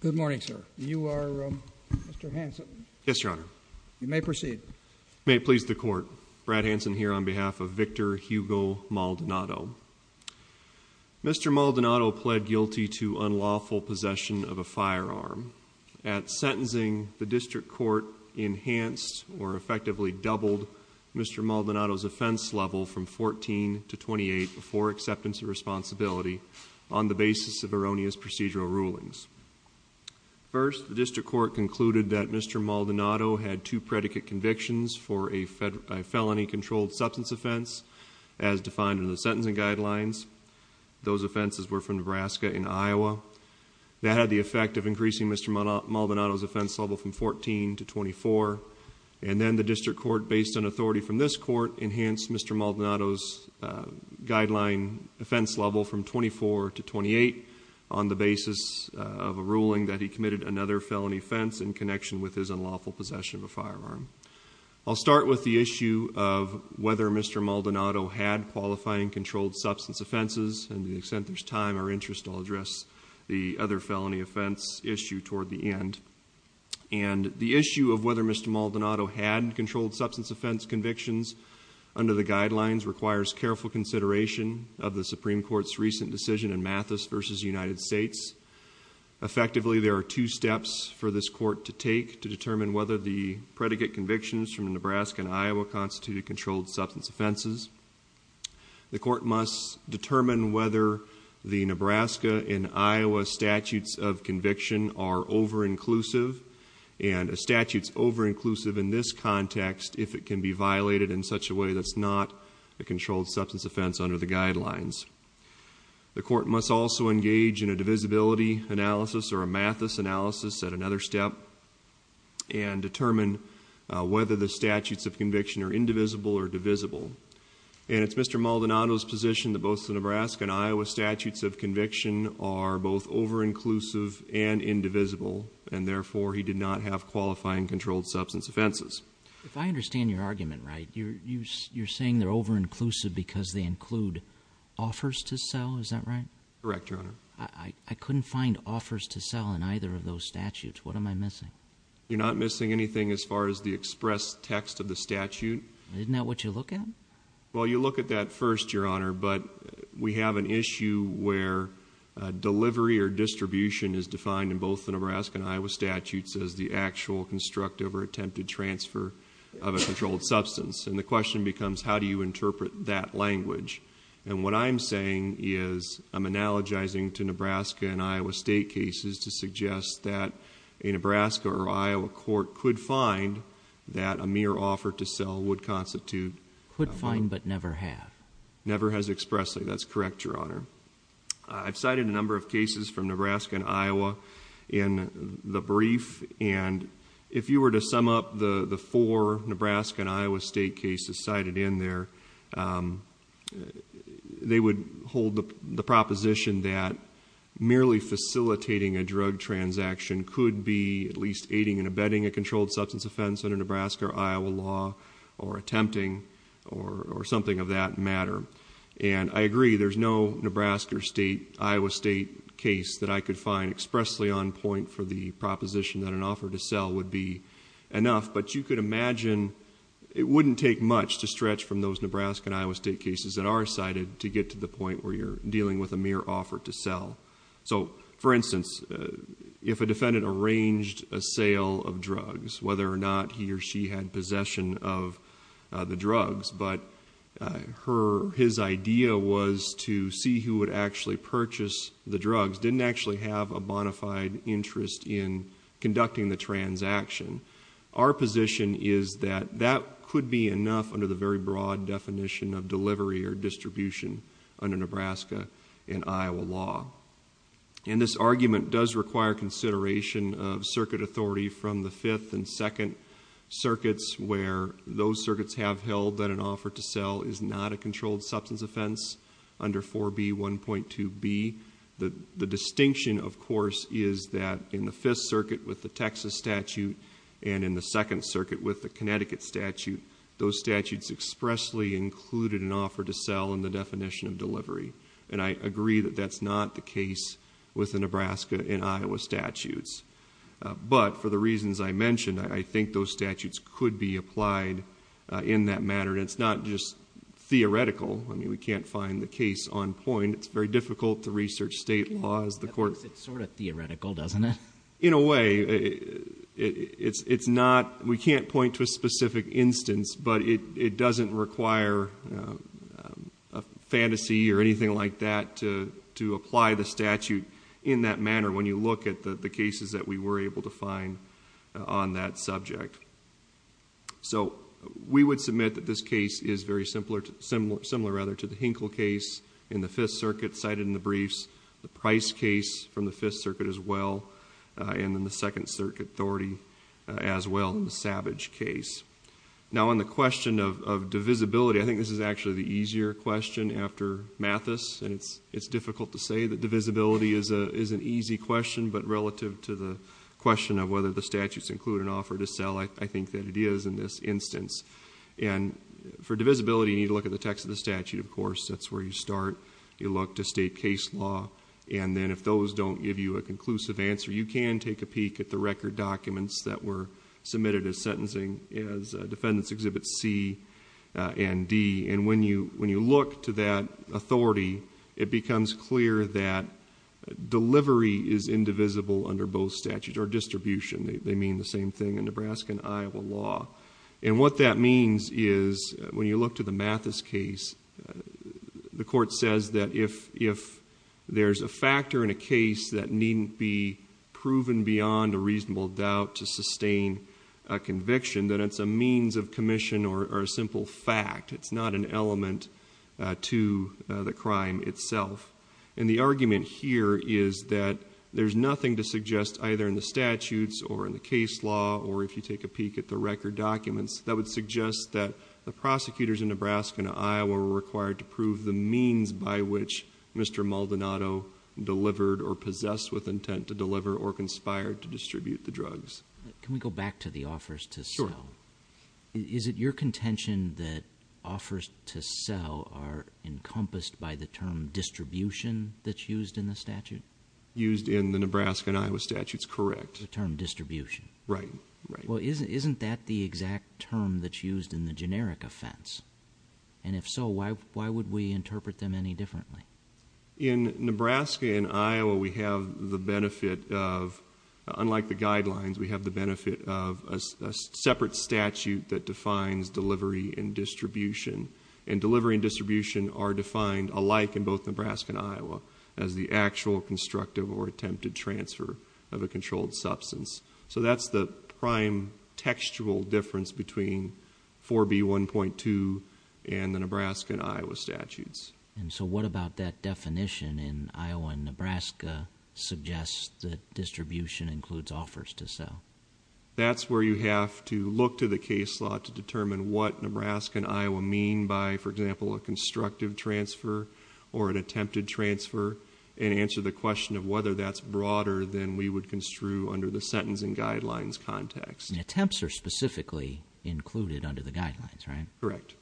Good morning, sir. You are Mr. Hanson? Yes, your honor. You may proceed. May it please the court. Brad Hanson here on behalf of Victor Hugo Maldonado. Mr. Maldonado pled guilty to unlawful possession of a firearm. At sentencing, the district court enhanced or effectively doubled Mr. Maldonado's offense level from 14 to 28 for acceptance of responsibility on the basis of erroneous procedural rulings. First, the district court concluded that Mr. Maldonado had two predicate convictions for a felony controlled substance offense as defined in the sentencing guidelines. Those offenses were from Nebraska and Iowa. That had the effect of increasing Mr. Maldonado's offense level from 14 to 24. And then the district court, based on authority from this court, enhanced Mr. Maldonado's guideline offense level from 24 to 28 on the basis of a ruling that he committed another felony offense in connection with his unlawful possession of a firearm. I'll start with the issue of whether Mr. Maldonado had qualifying controlled substance offenses. And to the extent there's time or interest, I'll address the other felony offense issue toward the end. And the issue of whether Mr. Maldonado had controlled substance offense convictions under the guidelines requires careful consideration of the Supreme Court's recent decision in Mathis v. United States. Effectively, there are two steps for this court to take to determine whether the predicate convictions from Nebraska and Iowa constituted controlled substance offenses. The court must determine whether the Nebraska and Iowa statutes of conviction are over-inclusive. And a statute's over-inclusive in this context if it can be violated in such a way that's not a controlled substance offense under the guidelines. The court must also engage in a divisibility analysis or a Mathis analysis at another step and determine whether the statutes of conviction are indivisible or divisible. And it's Mr. Maldonado's position that both the Nebraska and Iowa statutes of conviction are both over-inclusive and indivisible. And therefore, he did not have qualifying controlled substance offenses. If I understand your argument right, you're saying they're over-inclusive because they include offers to sell, is that right? Correct, Your Honor. I couldn't find offers to sell in either of those statutes. What am I missing? You're not missing anything as far as the express text of the statute. Isn't that what you look at? Well you look at that first, Your Honor, but we have an issue where delivery or distribution is defined in both the Nebraska and Iowa statutes as the actual constructive or attempted transfer of a controlled substance. And the question becomes how do you interpret that language? And what I'm saying is I'm analogizing to Nebraska and Iowa state cases to suggest that a Nebraska or Iowa court could find that a mere offer to sell would constitute a fine. Could find but never have. Never has expressly. That's correct, Your Honor. I've cited a number of cases from Nebraska and Iowa in the brief. And if you were to sum up the four Nebraska and Iowa state cases cited in there, they would hold the proposition that merely facilitating a drug transaction could be at least aiding and abetting a controlled substance offense under Nebraska or Iowa law or attempting or something of that matter. And I agree, there's no Nebraska or state, Iowa state case that I could find expressly on point for the proposition that an imagine it wouldn't take much to stretch from those Nebraska and Iowa state cases that are cited to get to the point where you're dealing with a mere offer to sell. So, for instance, if a defendant arranged a sale of drugs, whether or not he or she had possession of the drugs, but his idea was to see who would actually purchase the drugs, didn't actually have a bona fide interest in it, is that that could be enough under the very broad definition of delivery or distribution under Nebraska and Iowa law. And this argument does require consideration of circuit authority from the fifth and second circuits where those circuits have held that an offer to sell is not a controlled substance offense under 4B1.2b. The distinction, of course, is that in the fifth circuit with the Texas statute and in the second circuit with the Connecticut statute, those statutes expressly included an offer to sell in the definition of delivery. And I agree that that's not the case with the Nebraska and Iowa statutes. But for the reasons I mentioned, I think those statutes could be applied in that manner. And it's not just theoretical. I mean, we can't find the case on point. It's very difficult to research state law as the court works. It's sort of theoretical, doesn't it? In a way, it's not. We can't point to a specific instance, but it doesn't require a fantasy or anything like that to apply the statute in that manner when you look at the cases that we were able to find on that subject. So we would submit that this case is very similar to the Hinkle case in the fifth circuit cited in the briefs, the briefs from the fifth circuit as well, and then the second circuit authority as well in the Savage case. Now on the question of divisibility, I think this is actually the easier question after Mathis. And it's difficult to say that divisibility is an easy question, but relative to the question of whether the statutes include an offer to sell, I think that it is in this instance. And for divisibility, you need to look at the text of the statute, of course. That's where you look to state case law. And then if those don't give you a conclusive answer, you can take a peek at the record documents that were submitted as sentencing as Defendants Exhibit C and D. And when you look to that authority, it becomes clear that delivery is indivisible under both statutes, or distribution. They mean the same thing in Nebraska and Iowa law. And what that means is, when you look to the Mathis case, the court says that if there's a factor in a case that needn't be proven beyond a reasonable doubt to sustain a conviction, that it's a means of commission or a simple fact. It's not an element to the crime itself. And the argument here is that there's nothing to suggest either in the statutes or in the case law or if you take a peek at the records, it would suggest that the prosecutors in Nebraska and Iowa were required to prove the means by which Mr. Maldonado delivered or possessed with intent to deliver or conspired to distribute the drugs. Can we go back to the offers to sell? Sure. Is it your contention that offers to sell are encompassed by the term distribution that's used in the statute? Used in the Nebraska and Iowa statutes, correct. The term distribution. Right, right. Well, isn't that the exact term that's used in the generic offense? And if so, why would we interpret them any differently? In Nebraska and Iowa, we have the benefit of, unlike the guidelines, we have the benefit of a separate statute that defines delivery and distribution. And delivery and distribution are defined alike in both Nebraska and Iowa as the actual constructive or attempted transfer of a controlled substance. So that's the prime textual difference between 4B1.2 and the Nebraska and Iowa statutes. And so what about that definition in Iowa and Nebraska suggests that distribution includes offers to sell? That's where you have to look to the case law to determine what Nebraska and Iowa mean by, for example, a constructive transfer or an attempted transfer and answer the question of whether that's broader than we would construe under the sentencing guidelines context. Attempts are specifically included under the guidelines, right? Correct.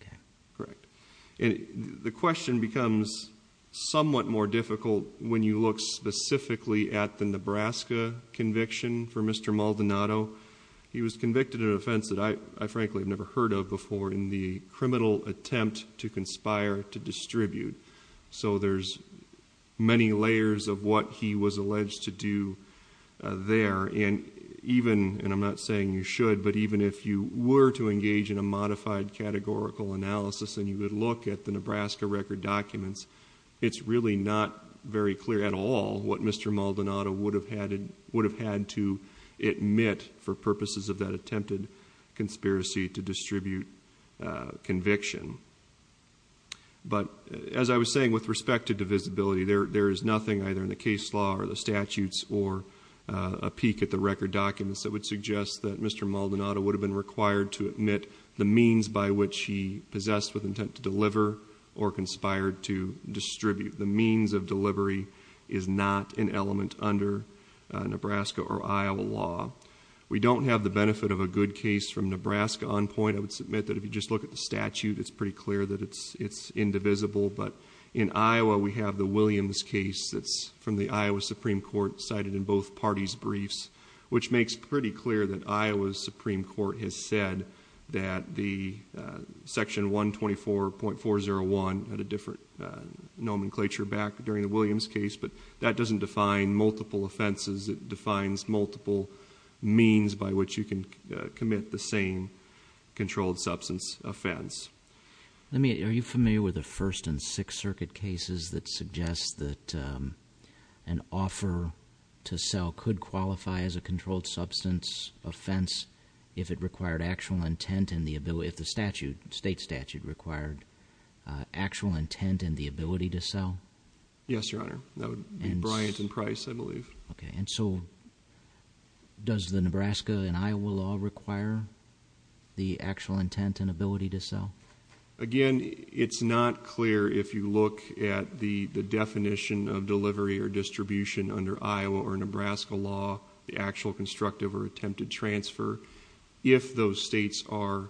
Okay. Correct. And the question becomes somewhat more difficult when you look specifically at the Nebraska conviction for Mr. Maldonado. He was convicted of an offense that I frankly have never heard of before in the criminal attempt to do there. And even, and I'm not saying you should, but even if you were to engage in a modified categorical analysis and you would look at the Nebraska record documents, it's really not very clear at all what Mr. Maldonado would have had to admit for purposes of that attempted conspiracy to distribute conviction. But as I was saying with respect to divisibility, there is nothing either in the case law or the statutes or a peek at the record documents that would suggest that Mr. Maldonado would have been required to admit the means by which he possessed with intent to deliver or conspired to distribute. The means of delivery is not an element under Nebraska or Iowa law. We don't have the benefit of a good case from Nebraska on point. I would submit that if you just look at the statute, it's pretty clear that it's, it's indivisible. But in Iowa, we have the Williams case that's from the Iowa Supreme Court cited in both parties' briefs, which makes pretty clear that Iowa's Supreme Court has said that the section 124.401 had a different nomenclature back during the Williams case, but that doesn't define multiple offenses. It defines multiple means by which you can commit the same controlled substance offense. Let me, are you familiar with the First and Sixth Circuit cases that suggest that, um, an offer to sell could qualify as a controlled substance offense if it required actual intent and the ability, if the statute, state statute required, actual intent and the ability to sell? Yes, Your Honor. That would be Bryant and Price, I believe. Okay. And so does the Nebraska and Iowa law require the actual intent and ability to sell? Again, it's not clear if you look at the, the definition of delivery or distribution under Iowa or Nebraska law, the actual constructive or attempted transfer, if those states are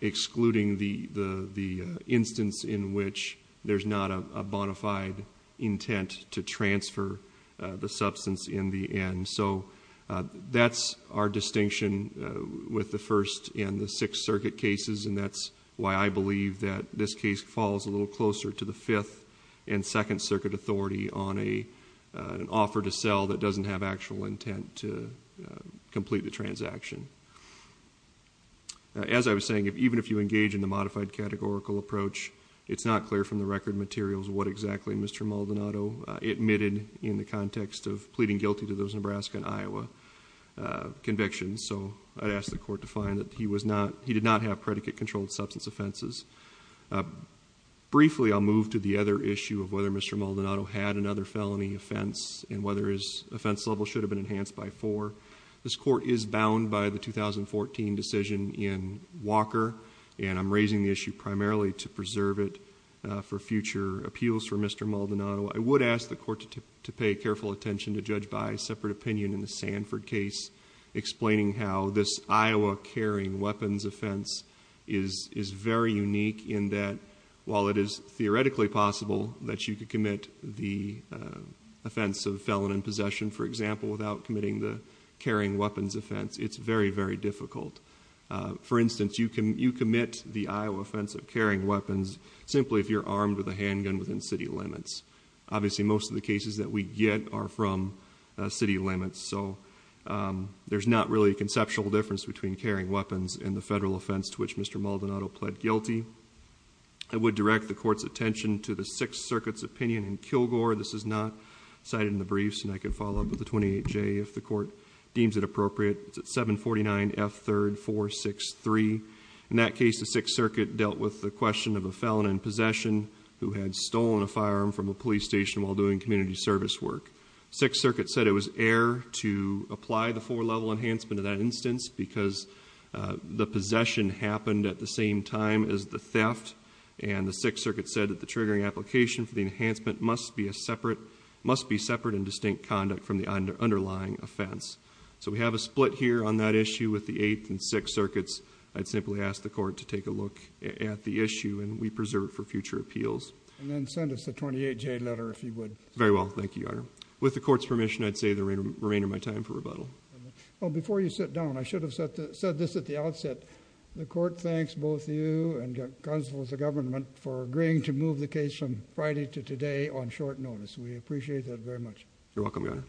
excluding the, the, the instance in which there's not a bona fide intent to transfer the substance in the end. So, uh, that's our distinction, uh, with the First and the Sixth Circuit cases, and that's why I believe that this case falls a little closer to the Fifth and Second Circuit authority on a, uh, an offer to sell that doesn't have actual intent to, uh, complete the transaction. As I was saying, if, even if you engage in the modified categorical approach, it's not clear from the record materials what exactly Mr. Maldonado admitted in the context of pleading guilty to those Nebraska and Iowa, uh, convictions. So I'd ask the court to find that he was not, he did not have predicate-controlled substance offenses. Uh, briefly, I'll move to the other issue of whether Mr. Maldonado had another felony offense and whether his offense level should have been enhanced by four. This court is bound by the 2014 decision in Walker, and I'm raising the issue primarily to preserve it, uh, for future appeals for Mr. Maldonado. I would ask the court to, to pay careful attention to judge by a separate opinion in the Sanford case explaining how this Iowa carrying weapons offense is, is very unique in that while it is theoretically possible that you could commit the, uh, offense of felon in possession, for example, without committing the carrying weapons offense, it's very, very difficult. Uh, for instance, you can, you commit the Iowa offense of carrying weapons simply if you're armed with a gun. Most of the cases that we get are from, uh, city limits. So, um, there's not really a conceptual difference between carrying weapons and the federal offense to which Mr. Maldonado pled guilty. I would direct the court's attention to the Sixth Circuit's opinion in Kilgore. This is not cited in the briefs, and I can follow up with the 28J if the court deems it appropriate. It's at 749 F. 3rd 463. In that case, the Sixth Circuit dealt with the question of a felon in possession who had stolen a firearm from a police station while doing community service work. Sixth Circuit said it was air to apply the four-level enhancement of that instance because, uh, the possession happened at the same time as the theft, and the Sixth Circuit said that the triggering application for the enhancement must be a separate, must be separate and distinct conduct from the under, underlying offense. So, we have a split here on that issue with the Eighth and Sixth Circuits. I'd simply ask the court to take a look at the issue, and we preserve it for future appeals. And then send us the 28J letter if you would. Very well. Thank you, Your Honor. With the court's permission, I'd say the remainder of my time for rebuttal. Well, before you sit down, I should have said this at the outset. The court thanks both you and the Council of the Government for agreeing to move the case from Friday to today on short notice. We appreciate that very much. You're welcome, Your Honor.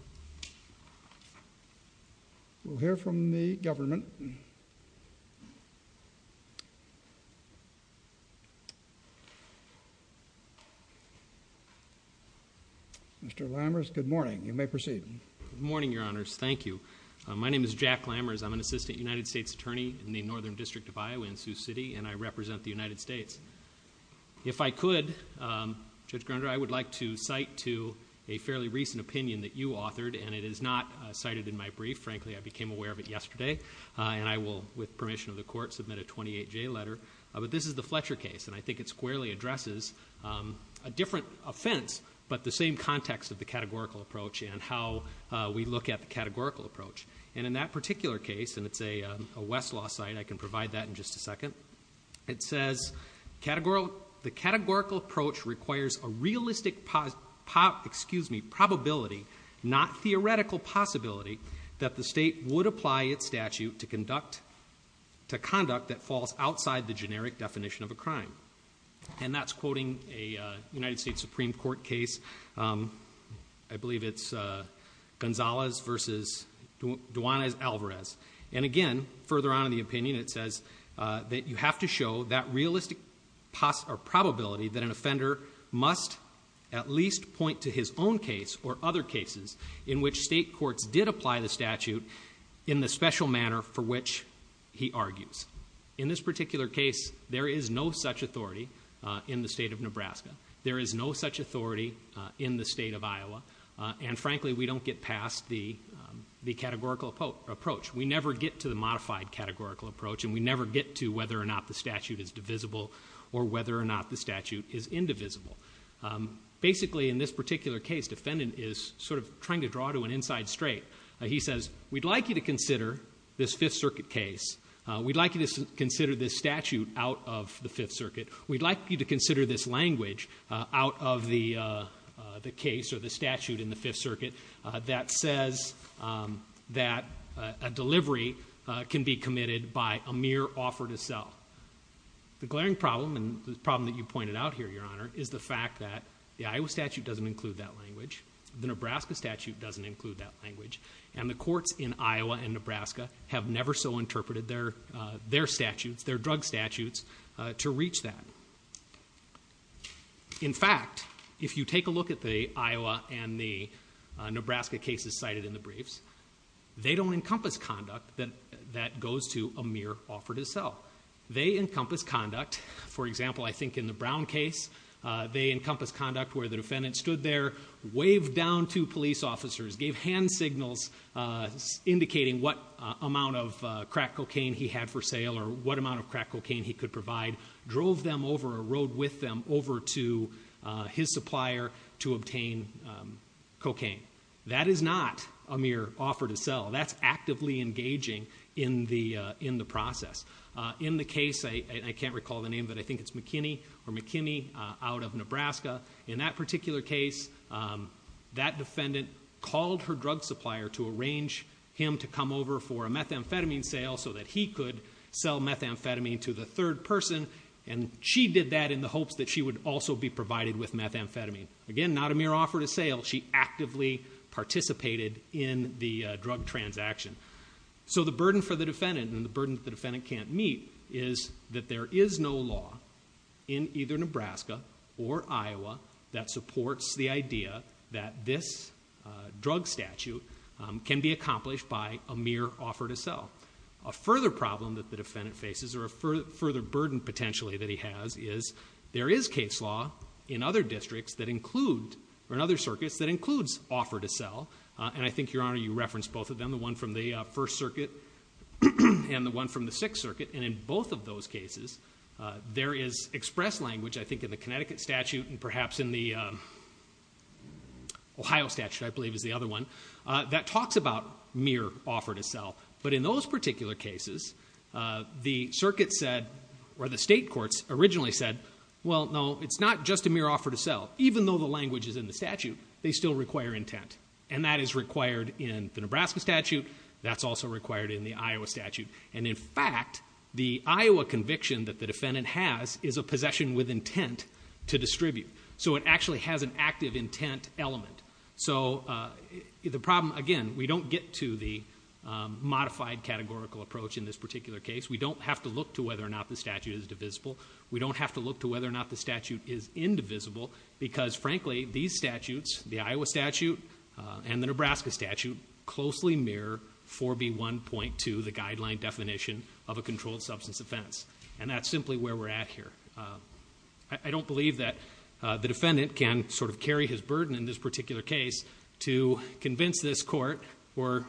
We'll hear from the government. Mr. Lammers, good morning. You may proceed. Good morning, Your Honors. Thank you. My name is Jack Lammers. I'm an Assistant United States Attorney in the Northern District of Iowa in Sioux City, and I represent the United States. If I could, Judge Grunder, I would like to cite to a fairly recent opinion that you authored, and it is not cited in my brief. Frankly, I became aware of it yesterday, and I will, with permission of the court, submit a 28J letter. But this is the Fletcher case, and I think it squarely addresses a different offense, but the same context of the categorical approach and how we look at the categorical approach. And in that particular case, and it's a Westlaw site, I can provide that in just a second, it says, the categorical approach requires a realistic probability, not theoretical possibility, that the state would apply its And that's quoting a United States Supreme Court case, I believe it's Gonzalez v. Duanez-Alvarez. And again, further on in the opinion, it says that you have to show that realistic probability that an offender must at least point to his own case or other cases in which state courts did apply the statute in the special manner for which he argues. In this particular case, there is no such authority in the state of Nebraska. There is no such authority in the state of Iowa. And frankly, we don't get past the categorical approach. We never get to the modified categorical approach, and we never get to whether or not the statute is divisible or whether or not the statute is indivisible. Basically, in this particular case, defendant is sort of trying to draw to an inside straight. He says, we'd like you to consider this Fifth Circuit case. We'd like you to consider this statute out of the Fifth Circuit. We'd like you to consider this language out of the case or the statute in the Fifth Circuit that says that a delivery can be committed by a mere offer to sell. The glaring problem, and the problem that you pointed out here, Your Honor, is the fact that the Iowa statute doesn't include that language, the Nebraska statute doesn't include that language, and the courts in Iowa and Nebraska have never so interpreted their statutes, their drug statutes, to reach that. In fact, if you take a look at the Iowa and the Nebraska cases cited in the briefs, they don't encompass conduct that goes to a mere offer to sell. They encompass conduct, for example, I think in the Brown case, they encompass conduct where the defendant stood there, waved down to him, indicating what amount of crack cocaine he had for sale or what amount of crack cocaine he could provide, drove them over, or rode with them over to his supplier to obtain cocaine. That is not a mere offer to sell. That's actively engaging in the process. In the case, I can't recall the name, but I think it's McKinney, or McKinney out of Nebraska, in that particular case, that defendant called her drug supplier to arrange him to come over for a methamphetamine sale so that he could sell methamphetamine to the third person, and she did that in the hopes that she would also be provided with methamphetamine. Again, not a mere offer to sale. She actively participated in the drug transaction. So the burden for the defendant, and the burden that the defendant can't meet, is that there is no law in either Nebraska or Iowa that supports the idea that this drug statute can be accomplished by a mere offer to sell. A further problem that the defendant faces, or a further burden potentially that he has, is there is case law in other districts that include, or in other circuits, that includes offer to sell, and I think, Your Honor, you referenced both of them, the one from the First Circuit and the one from the Sixth Circuit, and in both of those cases there is express language, I think, in the Connecticut statute and perhaps in the Ohio statute, I believe is the other one, that talks about mere offer to sell. But in those particular cases, the circuit said, or the state courts originally said, well, no, it's not just a mere offer to sell. Even though the language is in the statute, they still require intent. And that is required in the Nebraska statute, that's also required in the Iowa statute. And in fact, the Iowa conviction that the defendant has is a possession with intent to distribute. So it actually has an active intent element. So the problem, again, we don't get to the modified categorical approach in this particular case. We don't have to look to whether or not the statute is divisible. We don't have to look to whether or not the statute is indivisible, because, frankly, these statutes, the Iowa statute and the Nebraska statute, closely mirror 4B1.2, the guideline definition of a controlled substance offense. And that's simply where we're at here. I don't believe that the defendant can sort of carry his burden in this particular case to convince this court, or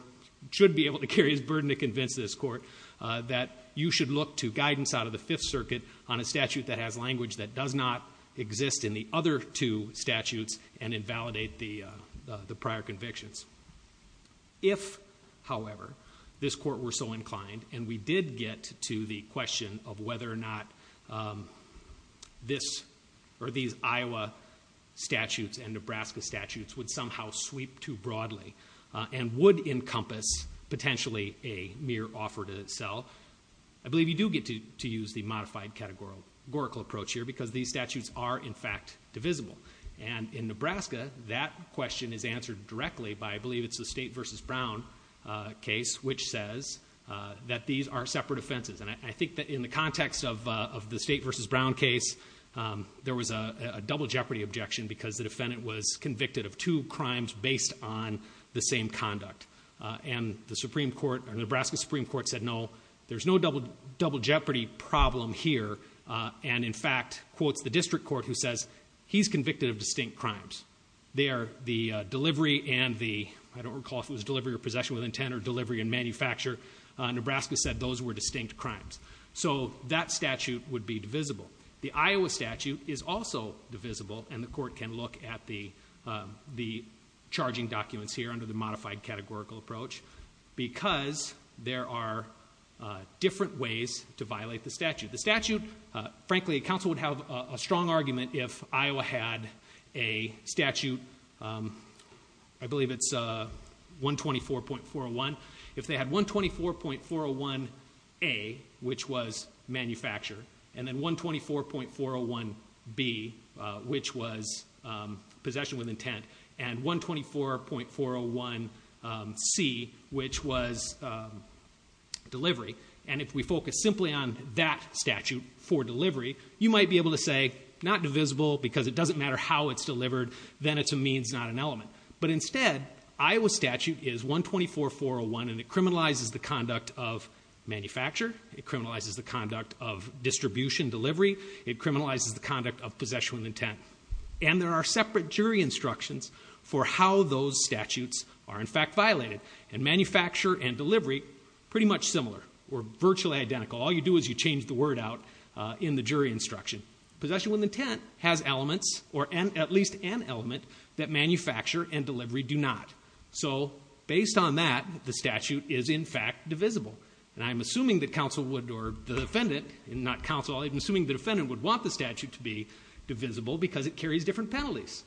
should be able to carry his burden to convince this court, that you should look to guidance out of the Fifth Circuit on a statute that has language that does not exist in the other two statutes and invalidate the prior convictions. If, however, this court were so inclined, and we did get to the question of whether or not these Iowa statutes and Nebraska statutes would somehow sweep too broadly and would encompass, potentially, a mere offer to sell, I believe you do get to use the modified categorical approach here, because these statutes are, in fact, divisible. And in Nebraska, that question is answered directly by, I believe it's the State v. Brown case, which says that these are separate offenses. And I think that in the context of the State v. Brown case, there was a double jeopardy objection, because the defendant was convicted of two crimes based on the same conduct. And the Supreme Court, or Nebraska Supreme Court, said, no, there's no double jeopardy problem here. And, in fact, quotes the district court, who says, he's convicted of distinct crimes. They are the delivery and the, I don't recall if it was delivery or possession with intent or delivery and manufacture. Nebraska said those were distinct crimes. So that statute would be divisible. The Iowa statute is also divisible, and the court can look at the charging documents here under the modified categorical approach, because there are different ways to violate the statute. The statute, frankly, counsel would have a strong argument if Iowa had a statute, I believe it's 124.401, if they had 124.401A, which was manufacture, and then 124.401B, which was possession with intent, and 124.401C, which was delivery. And if we focus simply on that statute for delivery, you might be able to say, not divisible, because it doesn't matter how it's delivered, then it's a means, not an element. But instead, Iowa statute is 124.401, and it criminalizes the conduct of manufacture, it criminalizes the conduct of distribution, delivery, it criminalizes the conduct of possession with intent. And there are separate jury instructions for how those statutes are, in fact, violated. And manufacture and delivery, pretty much similar, or virtually identical. All you do is you change the statute. Possession with intent has elements, or at least an element, that manufacture and delivery do not. So, based on that, the statute is, in fact, divisible. And I'm assuming that counsel would, or the defendant, not counsel, I'm assuming the defendant would want the statute to be divisible because it carries different penalties.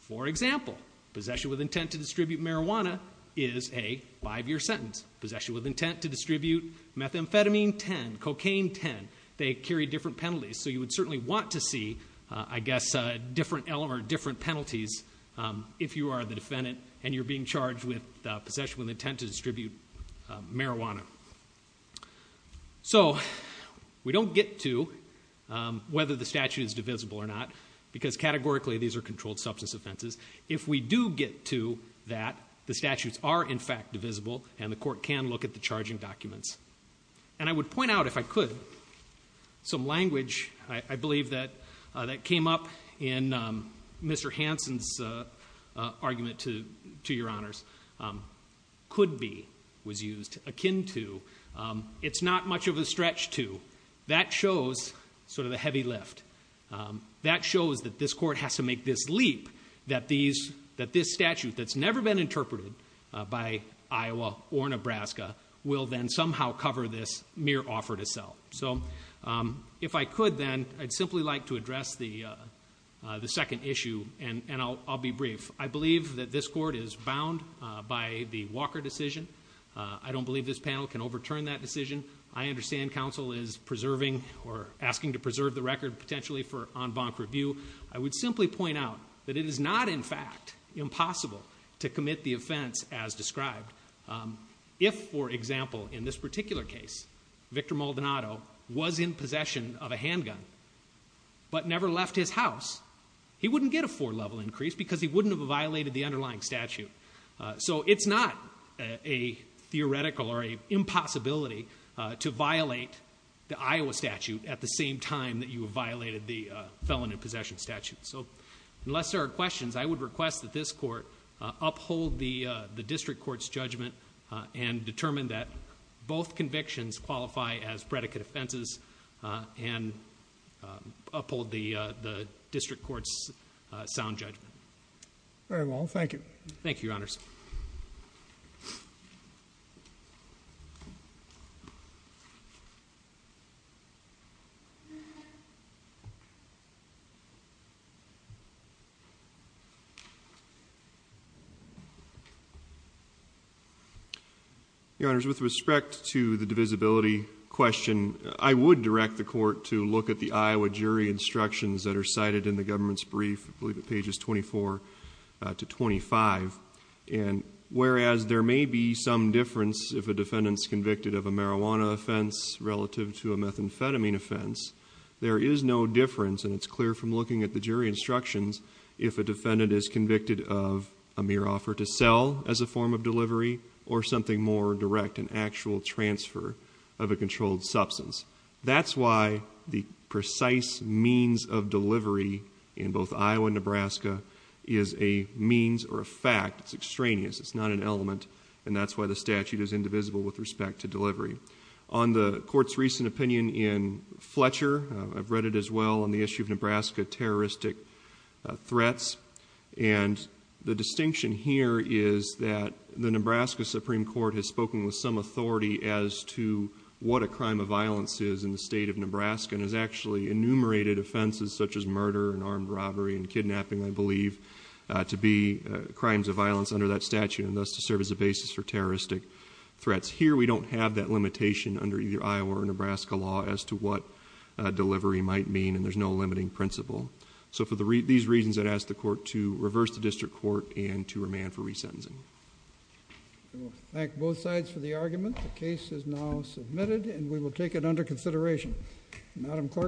For example, possession with intent to distribute marijuana is a five-year sentence. Possession with intent to distribute methamphetamine, 10. Cocaine, 10. They carry different penalties. So you would certainly want to see, I guess, a different element or different penalties if you are the defendant and you're being charged with possession with intent to distribute marijuana. So, we don't get to whether the statute is divisible or not, because categorically these are controlled substance offenses. If we do get to that, the statutes are, in fact, divisible, and the court can look at the And I would point out, if I could, some language, I believe, that came up in Mr. Hansen's argument to your honors, could be, was used, akin to, it's not much of a stretch to. That shows sort of the heavy lift. That shows that this court has to make this leap, that this statute that's never been interpreted by the court has to somehow cover this mere offer to sell. So, if I could, then, I'd simply like to address the second issue, and I'll be brief. I believe that this court is bound by the Walker decision. I don't believe this panel can overturn that decision. I understand counsel is preserving or asking to preserve the record, potentially, for en banc review. I would simply point out that it is not, in fact, impossible to commit the offense as described. If, for example, in this particular case, Victor Maldonado was in possession of a handgun but never left his house, he wouldn't get a four-level increase because he wouldn't have violated the underlying statute. So, it's not a theoretical or a impossibility to violate the Iowa statute at the same time that you have violated the felon in possession statute. So, unless there are questions, I would request that this court uphold the district court's judgment and determine that both convictions qualify as predicate offenses and uphold the district court's sound judgment. Very well. Thank you. Thank you, Your Honors. Your Honors, with respect to the divisibility question, I would direct the court to look at the Iowa jury instructions that are cited in the government's statute, I believe at pages 24 to 25. And whereas there may be some difference if a defendant's convicted of a marijuana offense relative to a methamphetamine offense, there is no difference, and it's clear from looking at the jury instructions, if a defendant is convicted of a mere offer to sell as a form of delivery or something more direct, an actual transfer of a controlled substance. That's why the precise means of delivery in both Iowa and Nebraska is a means or a fact. It's extraneous. It's not an element. And that's why the statute is indivisible with respect to delivery. On the court's recent opinion in Fletcher, I've read it as well on the issue of Nebraska terroristic threats. And the distinction here is that the Nebraska Supreme Court has spoken with some authority as to what a crime of violence is in the state of Nebraska, and has actually enumerated offenses such as murder and armed robbery and kidnapping, I believe, to be crimes of violence under that statute, and thus to serve as a basis for terroristic threats. Here, we don't have that limitation under either Iowa or Nebraska law as to what delivery might mean, and there's no limiting principle. So for these reasons, I'd ask the court to reverse the district court and to remand for both sides for the argument. The case is now submitted, and we will take it under consideration.